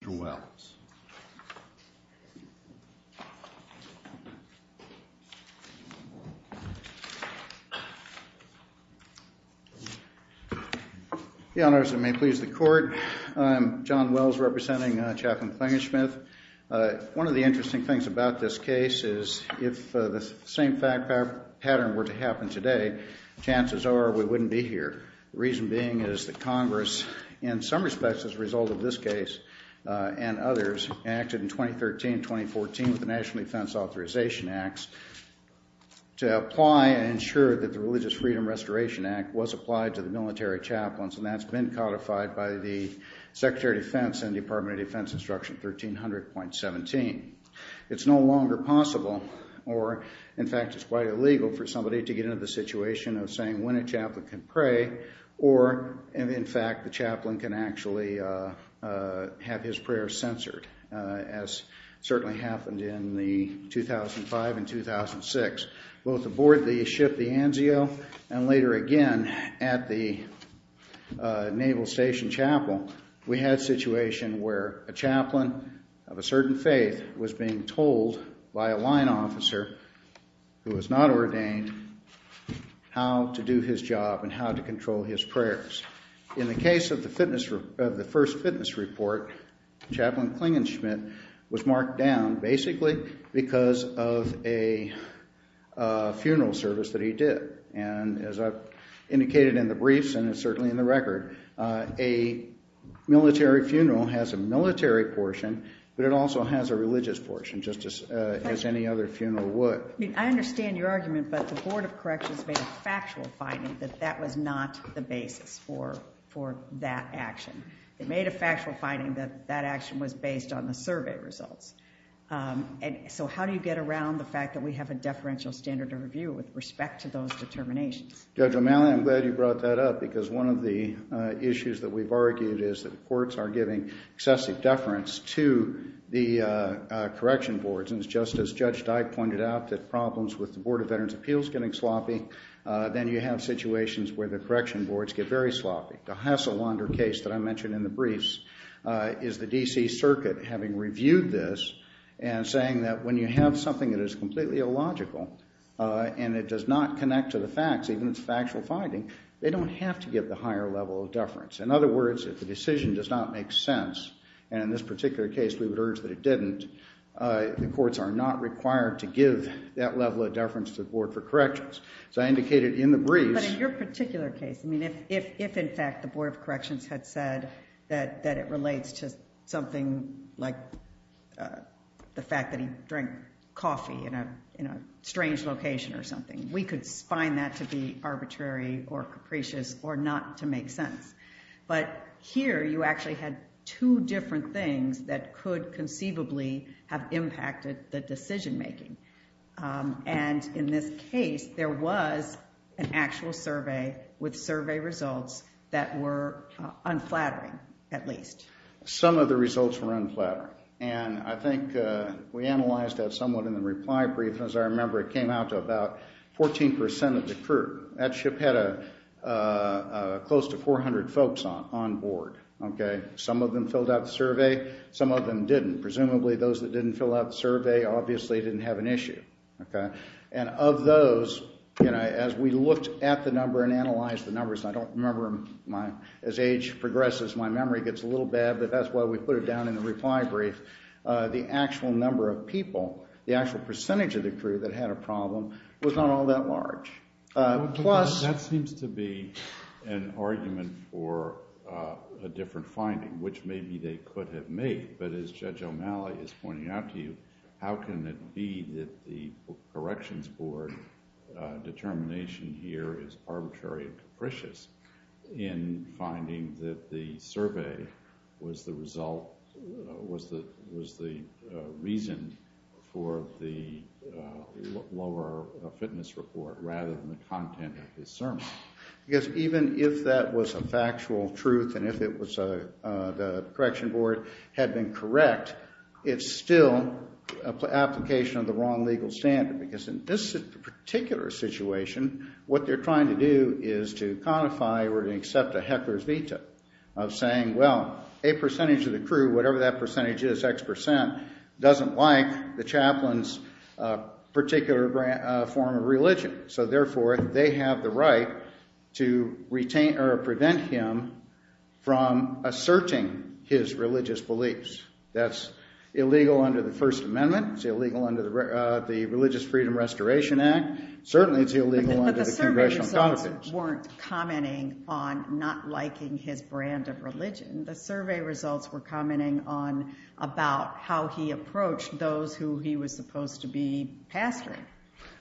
Your Honor, as it may please the Court, I'm John Wells representing Chaplain Klingenschmitt. One of the interesting things about this case is if the same pattern were to happen today, chances are we wouldn't be here. The reason being is that Congress, in some respects as a result of this case and others, acted in 2013-2014 with the National Defense Authorization Acts to apply and ensure that the Religious Freedom Restoration Act was applied to the military chaplains, and that's been codified by the Secretary of Defense and Department of Defense Instruction 1300.17. It's no longer possible, or in fact it's quite illegal, for somebody to get into the situation of saying when a chaplain can pray or, in fact, the chaplain can actually have his prayer censored, as certainly happened in the 2005 and 2006. Both aboard the ship the Anzio and later again at the Naval Station Chapel, we had a situation where a chaplain of a certain faith was being told by a line officer, who was not ordained, how to do his job and how to control his prayers. In the case of the first fitness report, Chaplain Klingenschmitt was marked down basically because of a funeral service that he did, and as I've indicated in the briefs and it's certainly in the record, a military funeral has a military portion, but it also has a religious portion, just as any other funeral would. I understand your argument, but the Board of Corrections made a factual finding that that was not the basis for that action. They made a factual finding that that action was based on the survey results. So how do you get around the fact that we have a deferential standard of review with respect to those determinations? Judge O'Malley, I'm glad you brought that up, because one of the issues that we've argued is that the courts are giving excessive deference to the correction boards, and just as Judge Dyke pointed out, that problems with the Board of Veterans Appeals getting sloppy, then you have situations where the correction boards get very sloppy. The Hasselwander case that I mentioned in the briefs is the DC Circuit having reviewed this and saying that when you have something that is completely illogical and it does not connect to the facts, even if it's a factual finding, they don't have to give the higher level of deference. In other words, if the decision does not make sense, and in this particular case we would urge that it didn't, the courts are not required to give that level of deference to the Board for Corrections. So I indicated in the briefs... But in your particular case, I mean, if in fact the Board of Corrections had said that it relates to something like the fact that he drank coffee in a strange location or something, we could find that to be arbitrary or capricious, or not to make sense. But here you actually had two different things that could conceivably have impacted the decision-making. And in this case, there was an actual survey with survey results that were unflattering, at least. Some of the results were unflattering, and I think we analyzed that somewhat in the reply brief. As I remember, it came out to about 14% of the crew. That ship had a close to 400 folks on board. Some of them filled out the survey, some of them didn't. Presumably those that didn't fill out the survey obviously didn't have an issue. And of those, as we looked at the number and analyzed the numbers, I don't remember my... As age progresses, my memory gets a little bad, but that's why we put it down in the reply brief. The actual number of people, the number of people that didn't fill out the survey, that was the number of people that didn't fill out the survey. So it seems to be an argument for a different finding, which maybe they could have made. But as Judge O'Malley is pointing out to you, how can it be that the Corrections Board determination here is arbitrary and capricious in finding that the survey was the result, was the reason for the lower fitness report rather than the content of his sermon? Because even if that was a factual truth, and if it was the Corrections Board had been correct, it's still an application of the wrong legal standard. Because in this particular situation, what they're trying to do is to codify or to accept a heckler's veto of saying, well, a percentage of the crew, whatever that percentage is, X percent, doesn't like the chaplain's particular form of religion. So therefore, they have the right to retain or prevent him from asserting his religious beliefs. That's illegal under the Religious Freedom Restoration Act. Certainly, it's illegal under the Congressional Codification. But the survey results weren't commenting on not liking his brand of religion. The survey results were commenting on about how he approached those who he was supposed to be pastoring.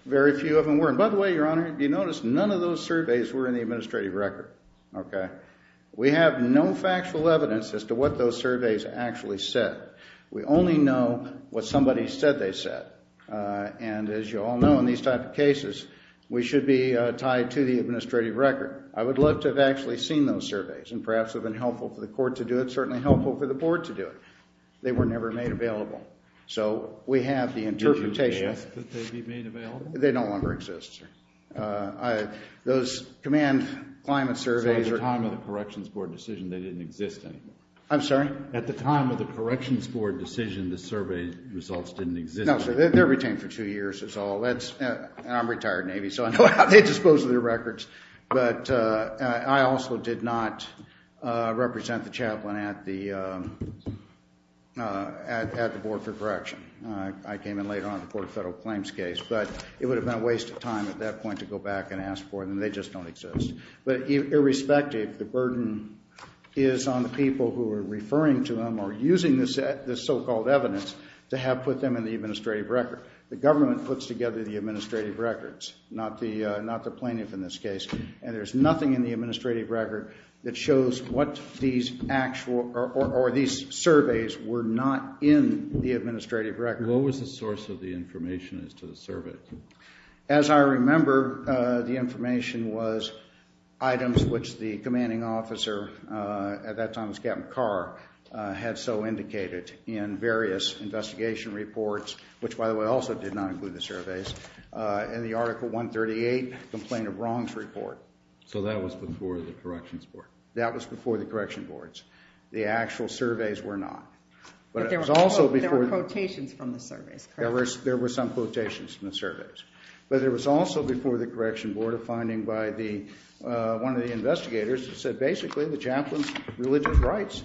Very few of them were. And by the way, Your Honor, if you notice, none of those surveys were in the administrative record, okay? We have no factual evidence as to what those surveys actually said. We only know what somebody said they said. And as you all know, in these type of cases, we should be tied to the administrative record. I would love to have actually seen those surveys and perhaps have been helpful for the Court to do it, certainly helpful for the Board to do it. They were never made available. So we have the interpretation... Did you ask that they be made available? They no longer exist, sir. Those command climate surveys... At the time of the Corrections Board decision, they didn't exist anymore. I'm sorry? At the time of the Corrections Board decision, the survey results didn't exist. No, sir. They're retained for two years is all. And I'm retired Navy, so I know how they dispose of their records. But I also did not represent the chaplain at the Board for Correction. I came in later on the Court of Federal Claims case. But it would have been a waste of time at that point to go back and ask for them. They just don't exist. But irrespective, the burden is on the people who are referring to them or using this so-called evidence to have put them in the administrative record. The government puts together the administrative records, not the plaintiff in this case. And there's nothing in the administrative record that shows what these actual or these surveys were not in the administrative record. What was the source of the information as to the surveys? As I remember, the information was items which the commanding officer, at that time it was Captain Carr, had so indicated in various investigation reports, which by the way also did not include the surveys, in the Article 138 Complaint of Wrongs Report. So that was before the Corrections Board? That was before the Correction Boards. The actual surveys were not. But there were quotations from the surveys, correct? There were some quotations from the surveys. But there was also before the Correction Board a finding by one of the investigators that said basically the chaplain's religious rights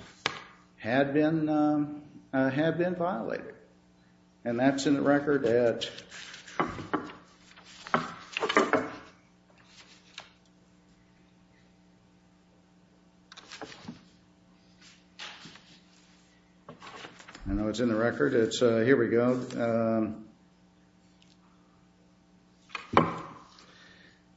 had been violated. And that's in the record. I know it's in the record. Here we go.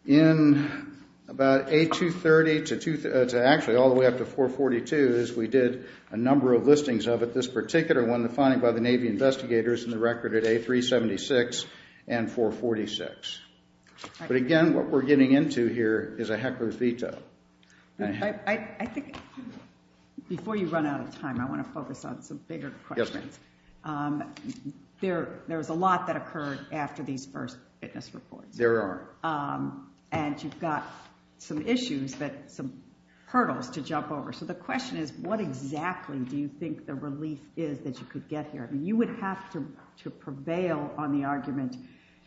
In about A230 to actually all the way up to 442 is we did a number of listings of it. One finding by the Navy investigators in the record at A376 and 446. But again, what we're getting into here is a heck of a veto. I think before you run out of time, I want to focus on some bigger questions. There was a lot that occurred after these first witness reports. There are. And you've got some issues, some hurdles to jump over. The question is, what exactly do you think the relief is that you could get here? You would have to prevail on the argument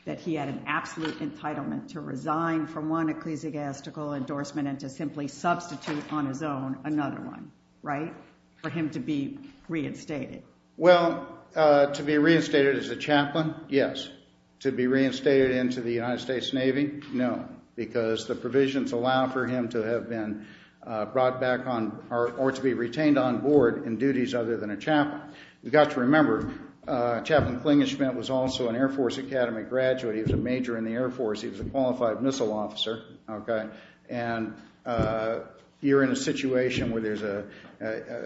that he had an absolute entitlement to resign from one ecclesiastical endorsement and to simply substitute on his own another one, right? For him to be reinstated. Well, to be reinstated as a chaplain, yes. To be reinstated into the United States Navy, no. Because the provisions allow for him to have been brought back on or to be retained on board in duties other than a chaplain. You've got to remember, Chaplain Klingenschmitt was also an Air Force Academy graduate. He was a major in the Air Force. He was a qualified missile officer. And you're in a situation where there's a,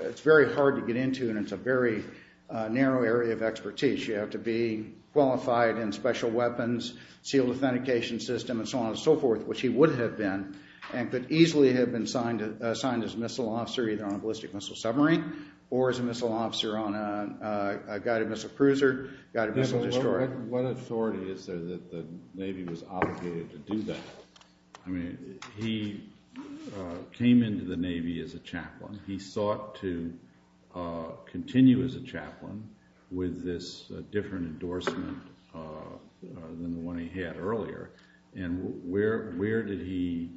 it's very hard to get into and it's a very narrow area of expertise. You have to be qualified in special weapons, sealed authentication system, and so on and so forth, which he would have been and could easily have been signed as a missile officer either on a ballistic missile submarine or as a missile officer on a guided missile cruiser, guided missile destroyer. What authority is there that the Navy was obligated to do that? I mean, he came into the Navy as a chaplain. He sought to continue as a chaplain with this different endorsement than the one he had earlier. And where did he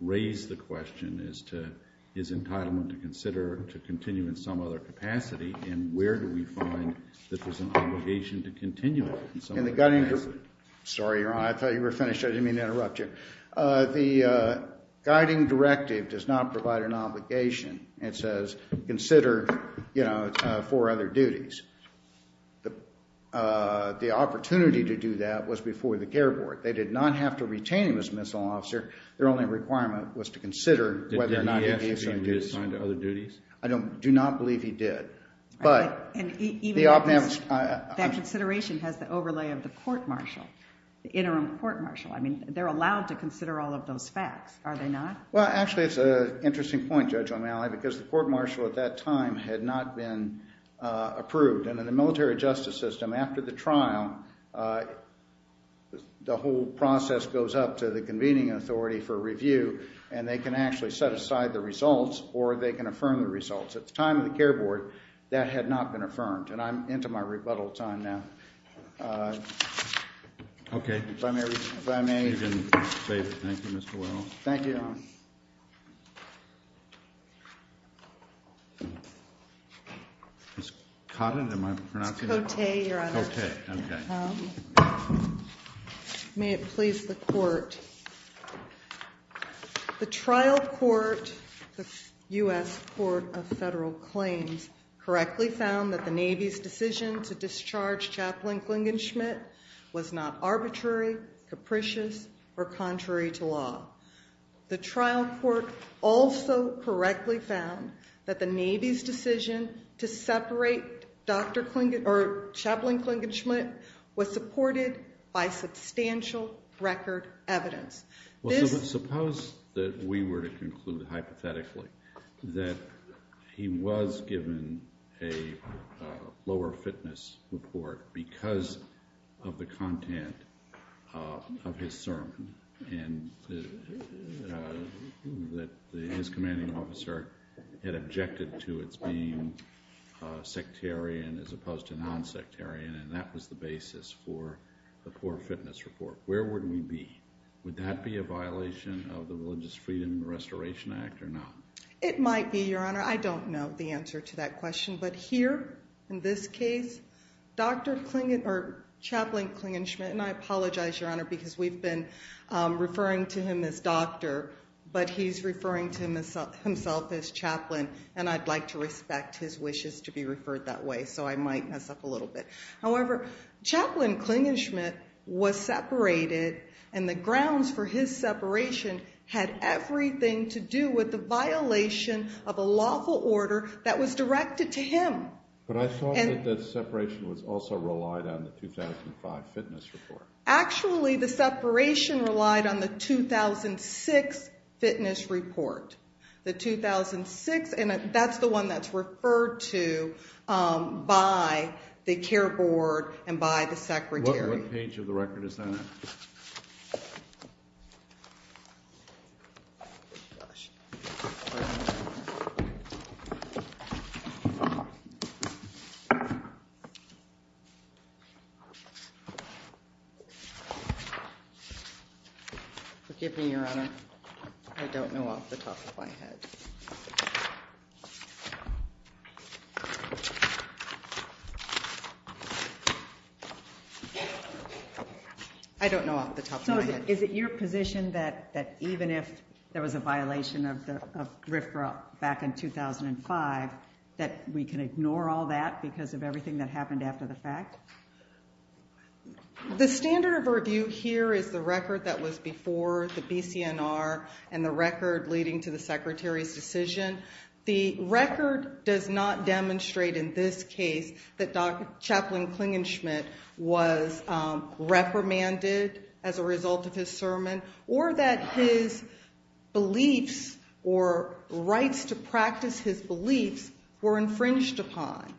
raise the question as to his entitlement to consider to continue in some other capacity? And where do we find that there's an obligation to continue? Sorry, Your Honor. I thought you were finished. I didn't mean to interrupt you. The guiding directive does not provide an obligation. It says consider, you know, for other duties. The opportunity to do that was before the care board. They did not have to retain him as a missile officer. Their only requirement was to consider whether or not he was assigned to other duties. I do not believe he did. That consideration has the overlay of the court-martial, the interim court-martial. I mean, they're allowed to consider all of those facts, are they not? Well, actually, it's an interesting point, Judge O'Malley, because the court-martial at that time had not been approved. And in the military justice system, after the trial, the whole process goes up to the convening authority for review. And they can actually set aside the results, or they can affirm the results. At the time of the care board, that had not been affirmed. And I'm into my rebuttal time now. If I may, if I may. You can say thank you, Mr. Wells. Thank you, Your Honor. Ms. Cotton, am I pronouncing it? It's Cote, Your Honor. Cote, okay. May it please the court. The trial court, the U.S. Court of Federal Claims, correctly found that the Navy's decision to discharge Chaplain Klingenschmitt was not arbitrary, capricious, or contrary to law. The trial court also correctly found that the Navy's decision to separate Chaplain Klingenschmitt was supported by substantial record evidence. Suppose that we were to conclude hypothetically that he was given a lower fitness report because of the content of his sermon, and that his commanding officer had objected to its being sectarian as opposed to non-sectarian, and that was the basis for the poor fitness report. Where would we be? Would that be a violation of the Religious Freedom Restoration Act or not? It might be, Your Honor. I don't know the answer to that question. But here, in this case, Chaplain Klingenschmitt, and I apologize, Your Honor, because we've been referring to him as doctor, but he's referring to himself as chaplain, and I'd like to respect his wishes to be referred that way, so I might mess up a little bit. However, Chaplain Klingenschmitt was separated, and the grounds for his separation had everything to do with the violation of a lawful order that was directed to him. But I thought that the separation was also relied on the 2005 fitness report. Actually, the separation relied on the 2006 fitness report. The 2006, and that's the one that's referred to by the CARE Board and by the Secretary. What page of the record is that? I don't know off the top of my head. I don't know off the top of my head. Is it your position that even if there was a violation of the RFRA back in 2005, that we can ignore all that because of everything that happened after the fact? The standard of review here is the record that was before the BCNR and the record leading to the Secretary's decision. The record does not demonstrate in this case that Chaplain Klingenschmitt was reprimanded as a result of his sermon or that his beliefs or rights to practice his beliefs were infringed upon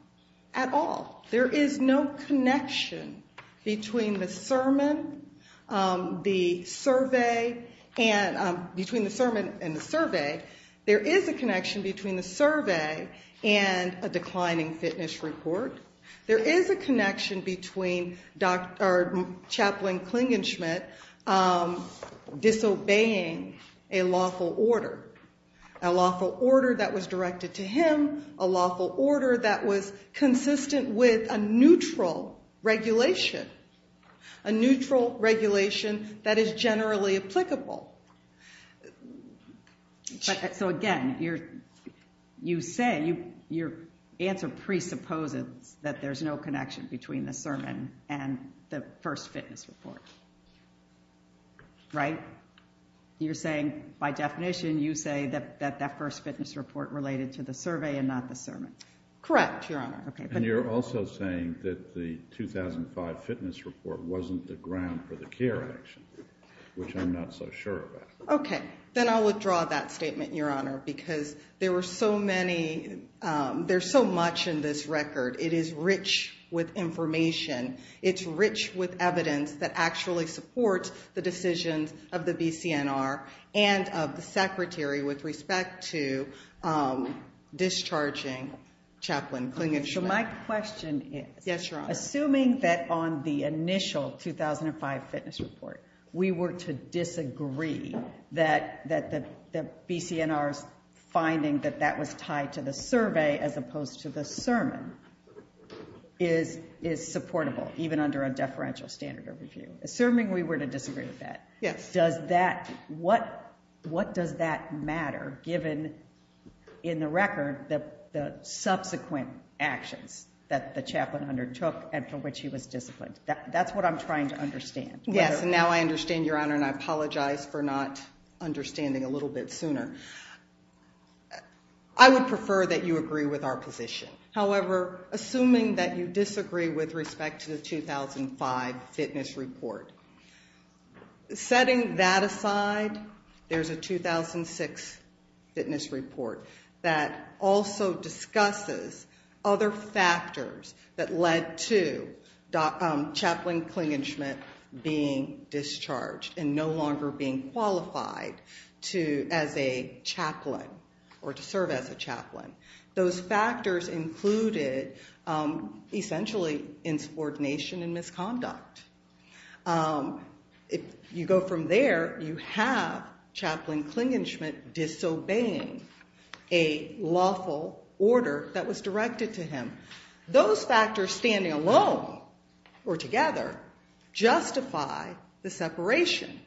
at all. There is no connection between the sermon and the survey. There is a connection between the survey and a declining fitness report. There is a connection between Chaplain Klingenschmitt disobeying a lawful order, a lawful order that was directed to him, a lawful order that was consistent with a neutral regulation, a neutral regulation that is generally applicable. So again, your answer presupposes that there's no connection between the sermon and the first fitness report, right? You're saying by definition, you say that that first fitness report related to the survey and not the sermon. Correct, Your Honor. And you're also saying that the 2005 fitness report wasn't the ground for the CARE action, which I'm not so sure about. Okay. Then I'll withdraw that statement, Your Honor, because there were so many, there's so much in this record. It is rich with information. It's rich with evidence that actually supports the decisions of the BCNR and of the Secretary with respect to discharging Chaplain Klingenschmitt. So my question is, assuming that on the initial 2005 fitness report, we were to disagree that the BCNR's finding that that was tied to the survey as opposed to the sermon is supportable, even under a deferential standard of review. Assuming we were to disagree with that, what does that matter given in the record the subsequent actions that the chaplain undertook and for which he was disciplined? That's what I'm trying to understand. Yes, and now I understand, Your Honor, and I apologize for not understanding a little bit sooner. I would prefer that you agree with our position. However, assuming that you disagree with respect to the 2005 fitness report, setting that aside, there's a 2006 fitness report that also discusses other factors that led to Chaplain Klingenschmitt being discharged and no longer being qualified as a chaplain or to serve as a chaplain. Those factors included essentially insubordination and misconduct. You go from there, you have Chaplain Klingenschmitt disobeying a lawful order that was directed to him. Those factors standing alone or together justify the separation.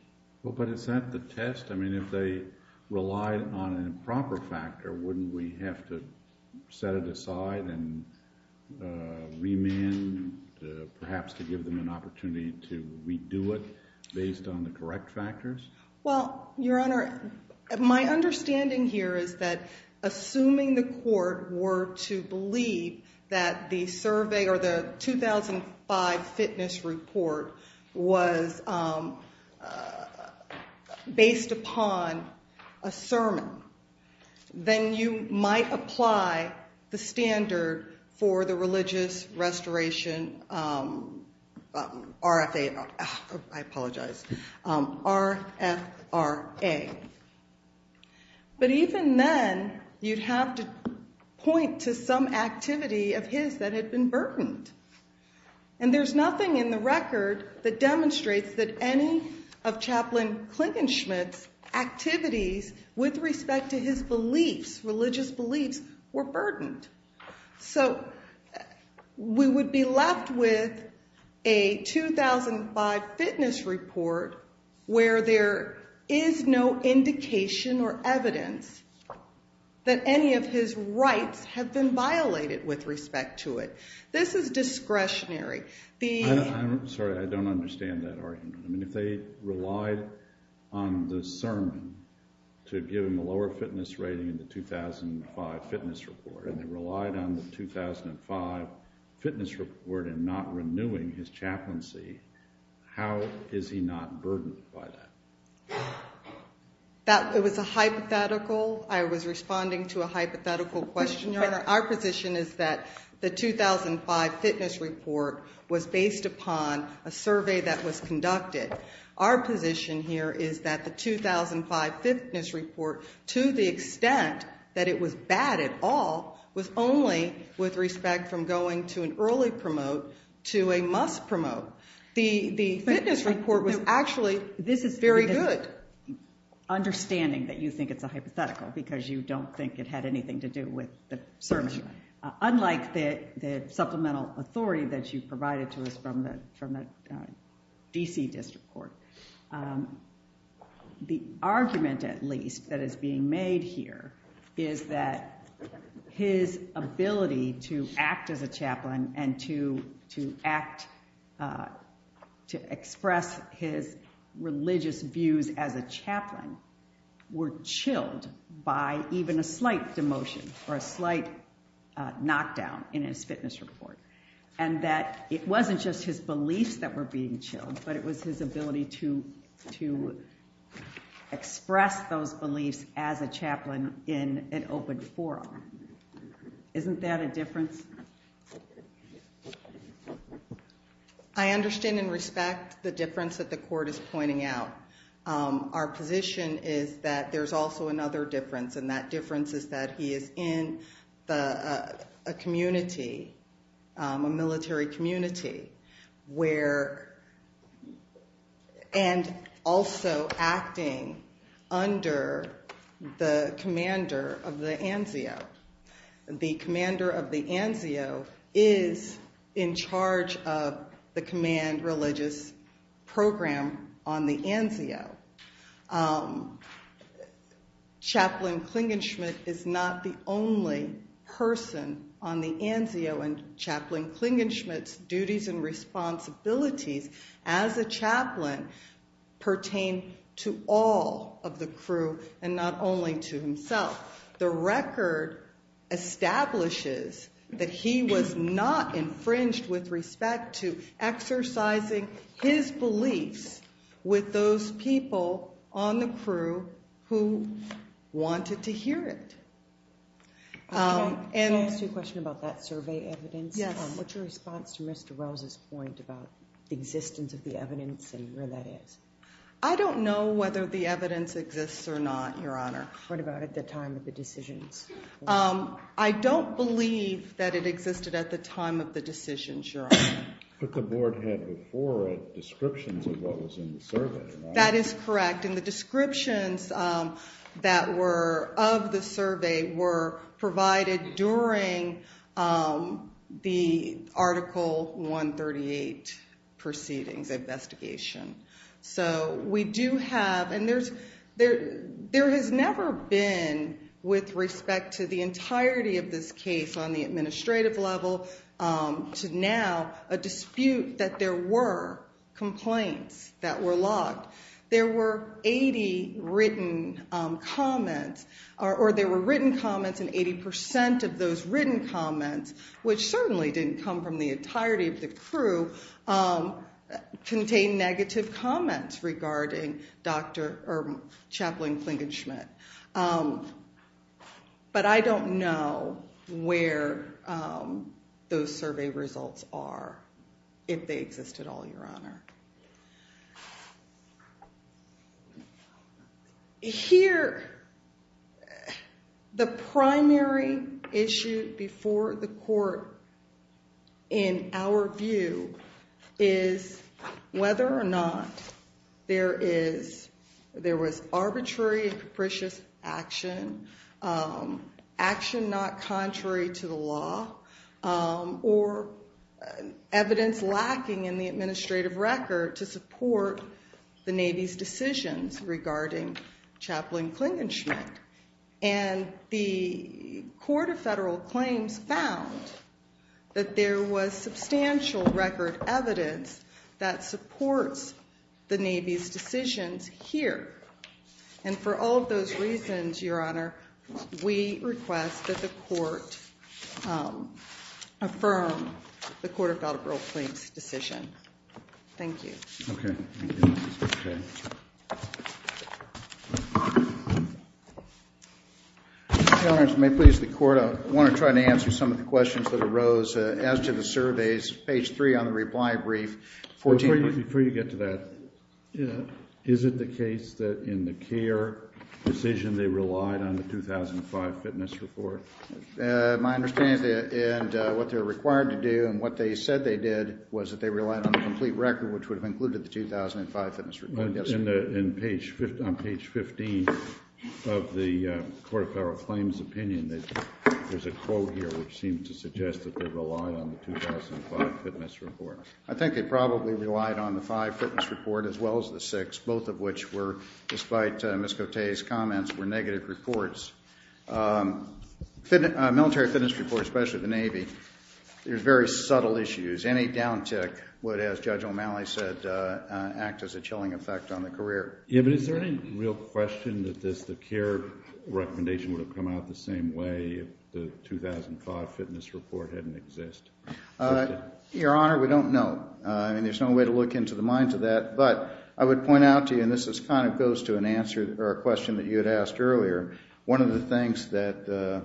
But is that the test? I mean, if they relied on an improper factor, wouldn't we have to set it aside and remand perhaps to give them an opportunity to redo it based on the correct factors? Well, Your Honor, my understanding here is that assuming the court were to believe that the survey or the 2005 fitness report was based upon a sermon, then you might apply the standard for the religious restoration RFA, I apologize, R-F-R-A. But even then, you'd have to point to some activity of his that had been burdened. And there's nothing in the record that demonstrates that any of Chaplain Klingenschmitt's activities with respect to his beliefs, religious beliefs, were burdened. So we would be left with a 2005 fitness report where there is no indication or evidence that any of his rights have been violated with respect to it. This is discretionary. Sorry, I don't understand that argument. I mean, if they relied on the sermon to give him a lower fitness rating in the 2005 fitness report and they relied on the 2005 fitness report in not renewing his chaplaincy, how is he not burdened by that? That was a hypothetical. I was responding to a hypothetical question, Your Honor. Our position is that the 2005 fitness report was based upon a survey that was conducted. Our position here is that the 2005 fitness report, to the extent that it was bad at all, was only with respect from going to an early promote to a must promote. The fitness report was actually very good. Understanding that you think it's a hypothetical because you don't think it had anything to do with the sermon, unlike the supplemental authority that you provided to us from the DC District Court. The argument, at least, that is being made here is that his ability to act as a chaplain and to act to express his religious views as a chaplain were chilled by even a slight demotion or a slight knockdown in his fitness report. And that it wasn't just his beliefs that were being chilled, but it was his ability to express those beliefs as a chaplain in an open forum. Isn't that a difference? I understand and respect the difference that the court is pointing out. Our position is that there's also another difference. And that difference is that he is in a community, a military community, and also acting under the commander of the ANSIO. The commander of the ANSIO is in charge of the command religious program on the ANSIO. Chaplain Klingenschmitt is not the only person on the ANSIO. And Chaplain Klingenschmitt's duties and responsibilities as a chaplain pertain to all of the crew and not only to himself. The record establishes that he was not infringed with respect to exercising his beliefs with those people on the crew who wanted to hear it. So I'll ask you a question about that survey evidence. Yes. What's your response to Mr. Rose's point about the existence of the evidence and where that is? I don't know whether the evidence exists or not, Your Honor. What about at the time of the decisions? I don't believe that it existed at the time of the decisions, Your Honor. But the board had before it descriptions of what was in the survey, right? That is correct. And the descriptions that were of the survey were provided during the Article 138 proceedings investigation. So we do have, and there has never been with respect to the entirety of this case on the administrative level to now a dispute that there were complaints that were logged. There were 80 written comments or there were written comments and 80% of those written comments, which certainly didn't come from the entirety of the crew, contain negative comments regarding Chaplain Klinkin-Schmidt. But I don't know where those survey results are, if they exist at all, Your Honor. Here, the primary issue before the court, in our view, is whether or not there was arbitrary and capricious action, action not contrary to the law, or evidence lacking in the administrative record to support the Navy's decisions regarding Chaplain Klinkin-Schmidt. And the Court of Federal Claims found that there was substantial record evidence that supports the Navy's decisions here. And for all of those reasons, Your Honor, we request that the court affirm the Court of Federal Claims decision. Thank you. Okay. Your Honor, if it may please the Court, I want to try to answer some of the questions that arose as to the surveys. Page 3 on the reply brief. Before you get to that, is it the case that in the care decision, they relied on the 2005 fitness report? My understanding is that what they were required to do and what they said they did was that they relied on the complete record, which would have included the 2005 fitness report. Yes, sir. On page 15 of the Court of Federal Claims opinion, there's a quote here which seems to suggest that they relied on the 2005 fitness report. I think they probably relied on the 2005 fitness report as well as the 2006, both of which were, despite Ms. Cote's comments, were negative reports. Military fitness reports, especially the Navy, there's very subtle issues. Any downtick would, as Judge O'Malley said, act as a chilling effect on the career. Yeah, but is there any real question that the care recommendation would have come out the same way if the 2005 fitness report hadn't existed? Your Honor, we don't know. And there's no way to look into the minds of that. But I would point out to you, and this kind of goes to an answer or a question that you had asked earlier, one of the things that the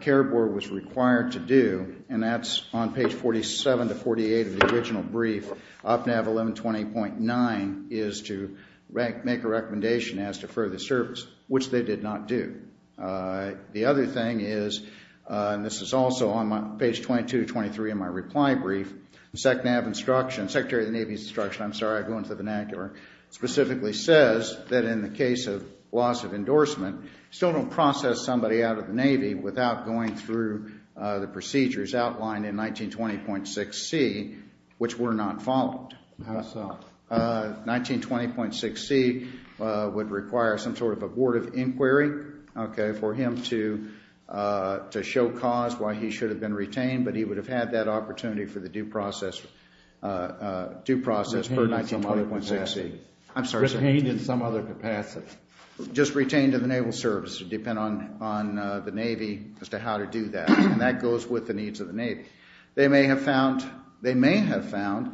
Care Board was required to do, and that's on page 47 to 48 of the original brief, OPNAV 1120.9, is to make a recommendation as to further service, which they did not do. The other thing is, and this is also on page 22 to 23 in my reply brief, the SECNAV instruction, Secretary of the Navy's instruction, I'm sorry, I go into the vernacular, specifically says that in the case of loss of endorsement, you still don't process somebody out of the 1920.6c, which were not followed. How so? 1920.6c would require some sort of abortive inquiry, okay, for him to show cause why he should have been retained, but he would have had that opportunity for the due process per 1920.6c. I'm sorry, sir. Retained in some other capacity. Just retained in the Naval service. It would depend on the Navy as to how to do that. And that goes with the needs of the Navy. They may have found that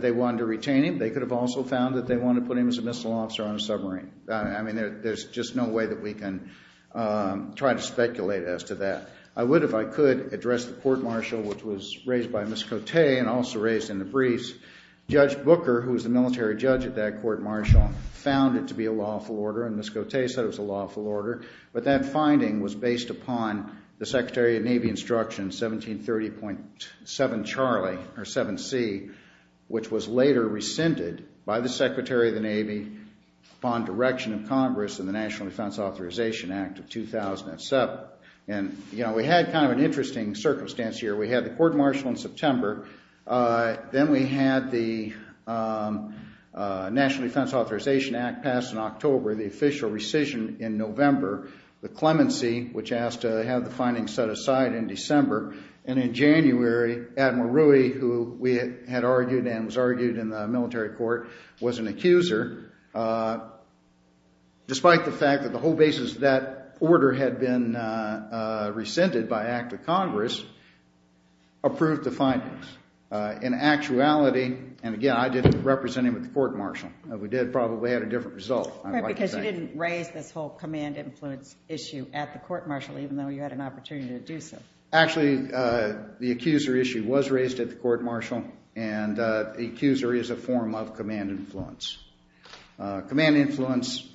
they wanted to retain him. They could have also found that they wanted to put him as a missile officer on a submarine. I mean, there's just no way that we can try to speculate as to that. I would, if I could, address the court martial, which was raised by Ms. Cote and also raised in the briefs. Judge Booker, who was the military judge at that court martial, found it to be a lawful order, and Ms. Cote said it was a lawful order. But that finding was based upon the Secretary of Navy Instruction 1730.7 Charlie, or 7c, which was later rescinded by the Secretary of the Navy upon direction of Congress in the National Defense Authorization Act of 2007. And, you know, we had kind of an interesting circumstance here. We had the court martial in September. Then we had the National Defense Authorization Act passed in October, the official rescission in November, the clemency, which asked to have the findings set aside in December. And in January, Admiral Rui, who we had argued and was argued in the military court, was an accuser, despite the fact that the whole basis of that order had been rescinded by act of Congress, approved the findings. In actuality, and again, I didn't represent him at the court martial. We did probably had a different result. Because you didn't raise this whole command influence issue at the court martial, even though you had an opportunity to do so. Actually, the accuser issue was raised at the court martial, and accuser is a form of command influence. Command influence,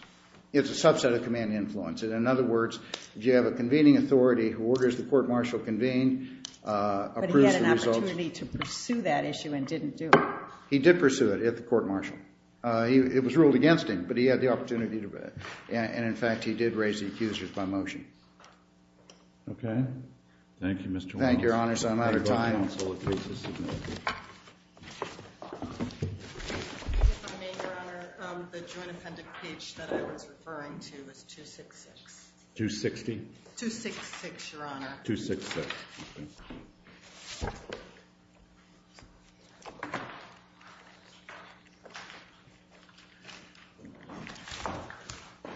it's a subset of command influence. And in other words, you have a convening authority who orders the court martial convene, approves the results. But he had an opportunity to pursue that issue and didn't do it. He did pursue it at the court martial. It was ruled against him, but he had the opportunity to do it. And in fact, he did raise the accusers by motion. OK. Thank you, Mr. Walsh. Thank you, Your Honor. So I'm out of time. Thank you, counsel. It was a significant issue. I just want to make, Your Honor, the joint appendix page that I was referring to was 266. 260? 266, Your Honor. 266. Thank you.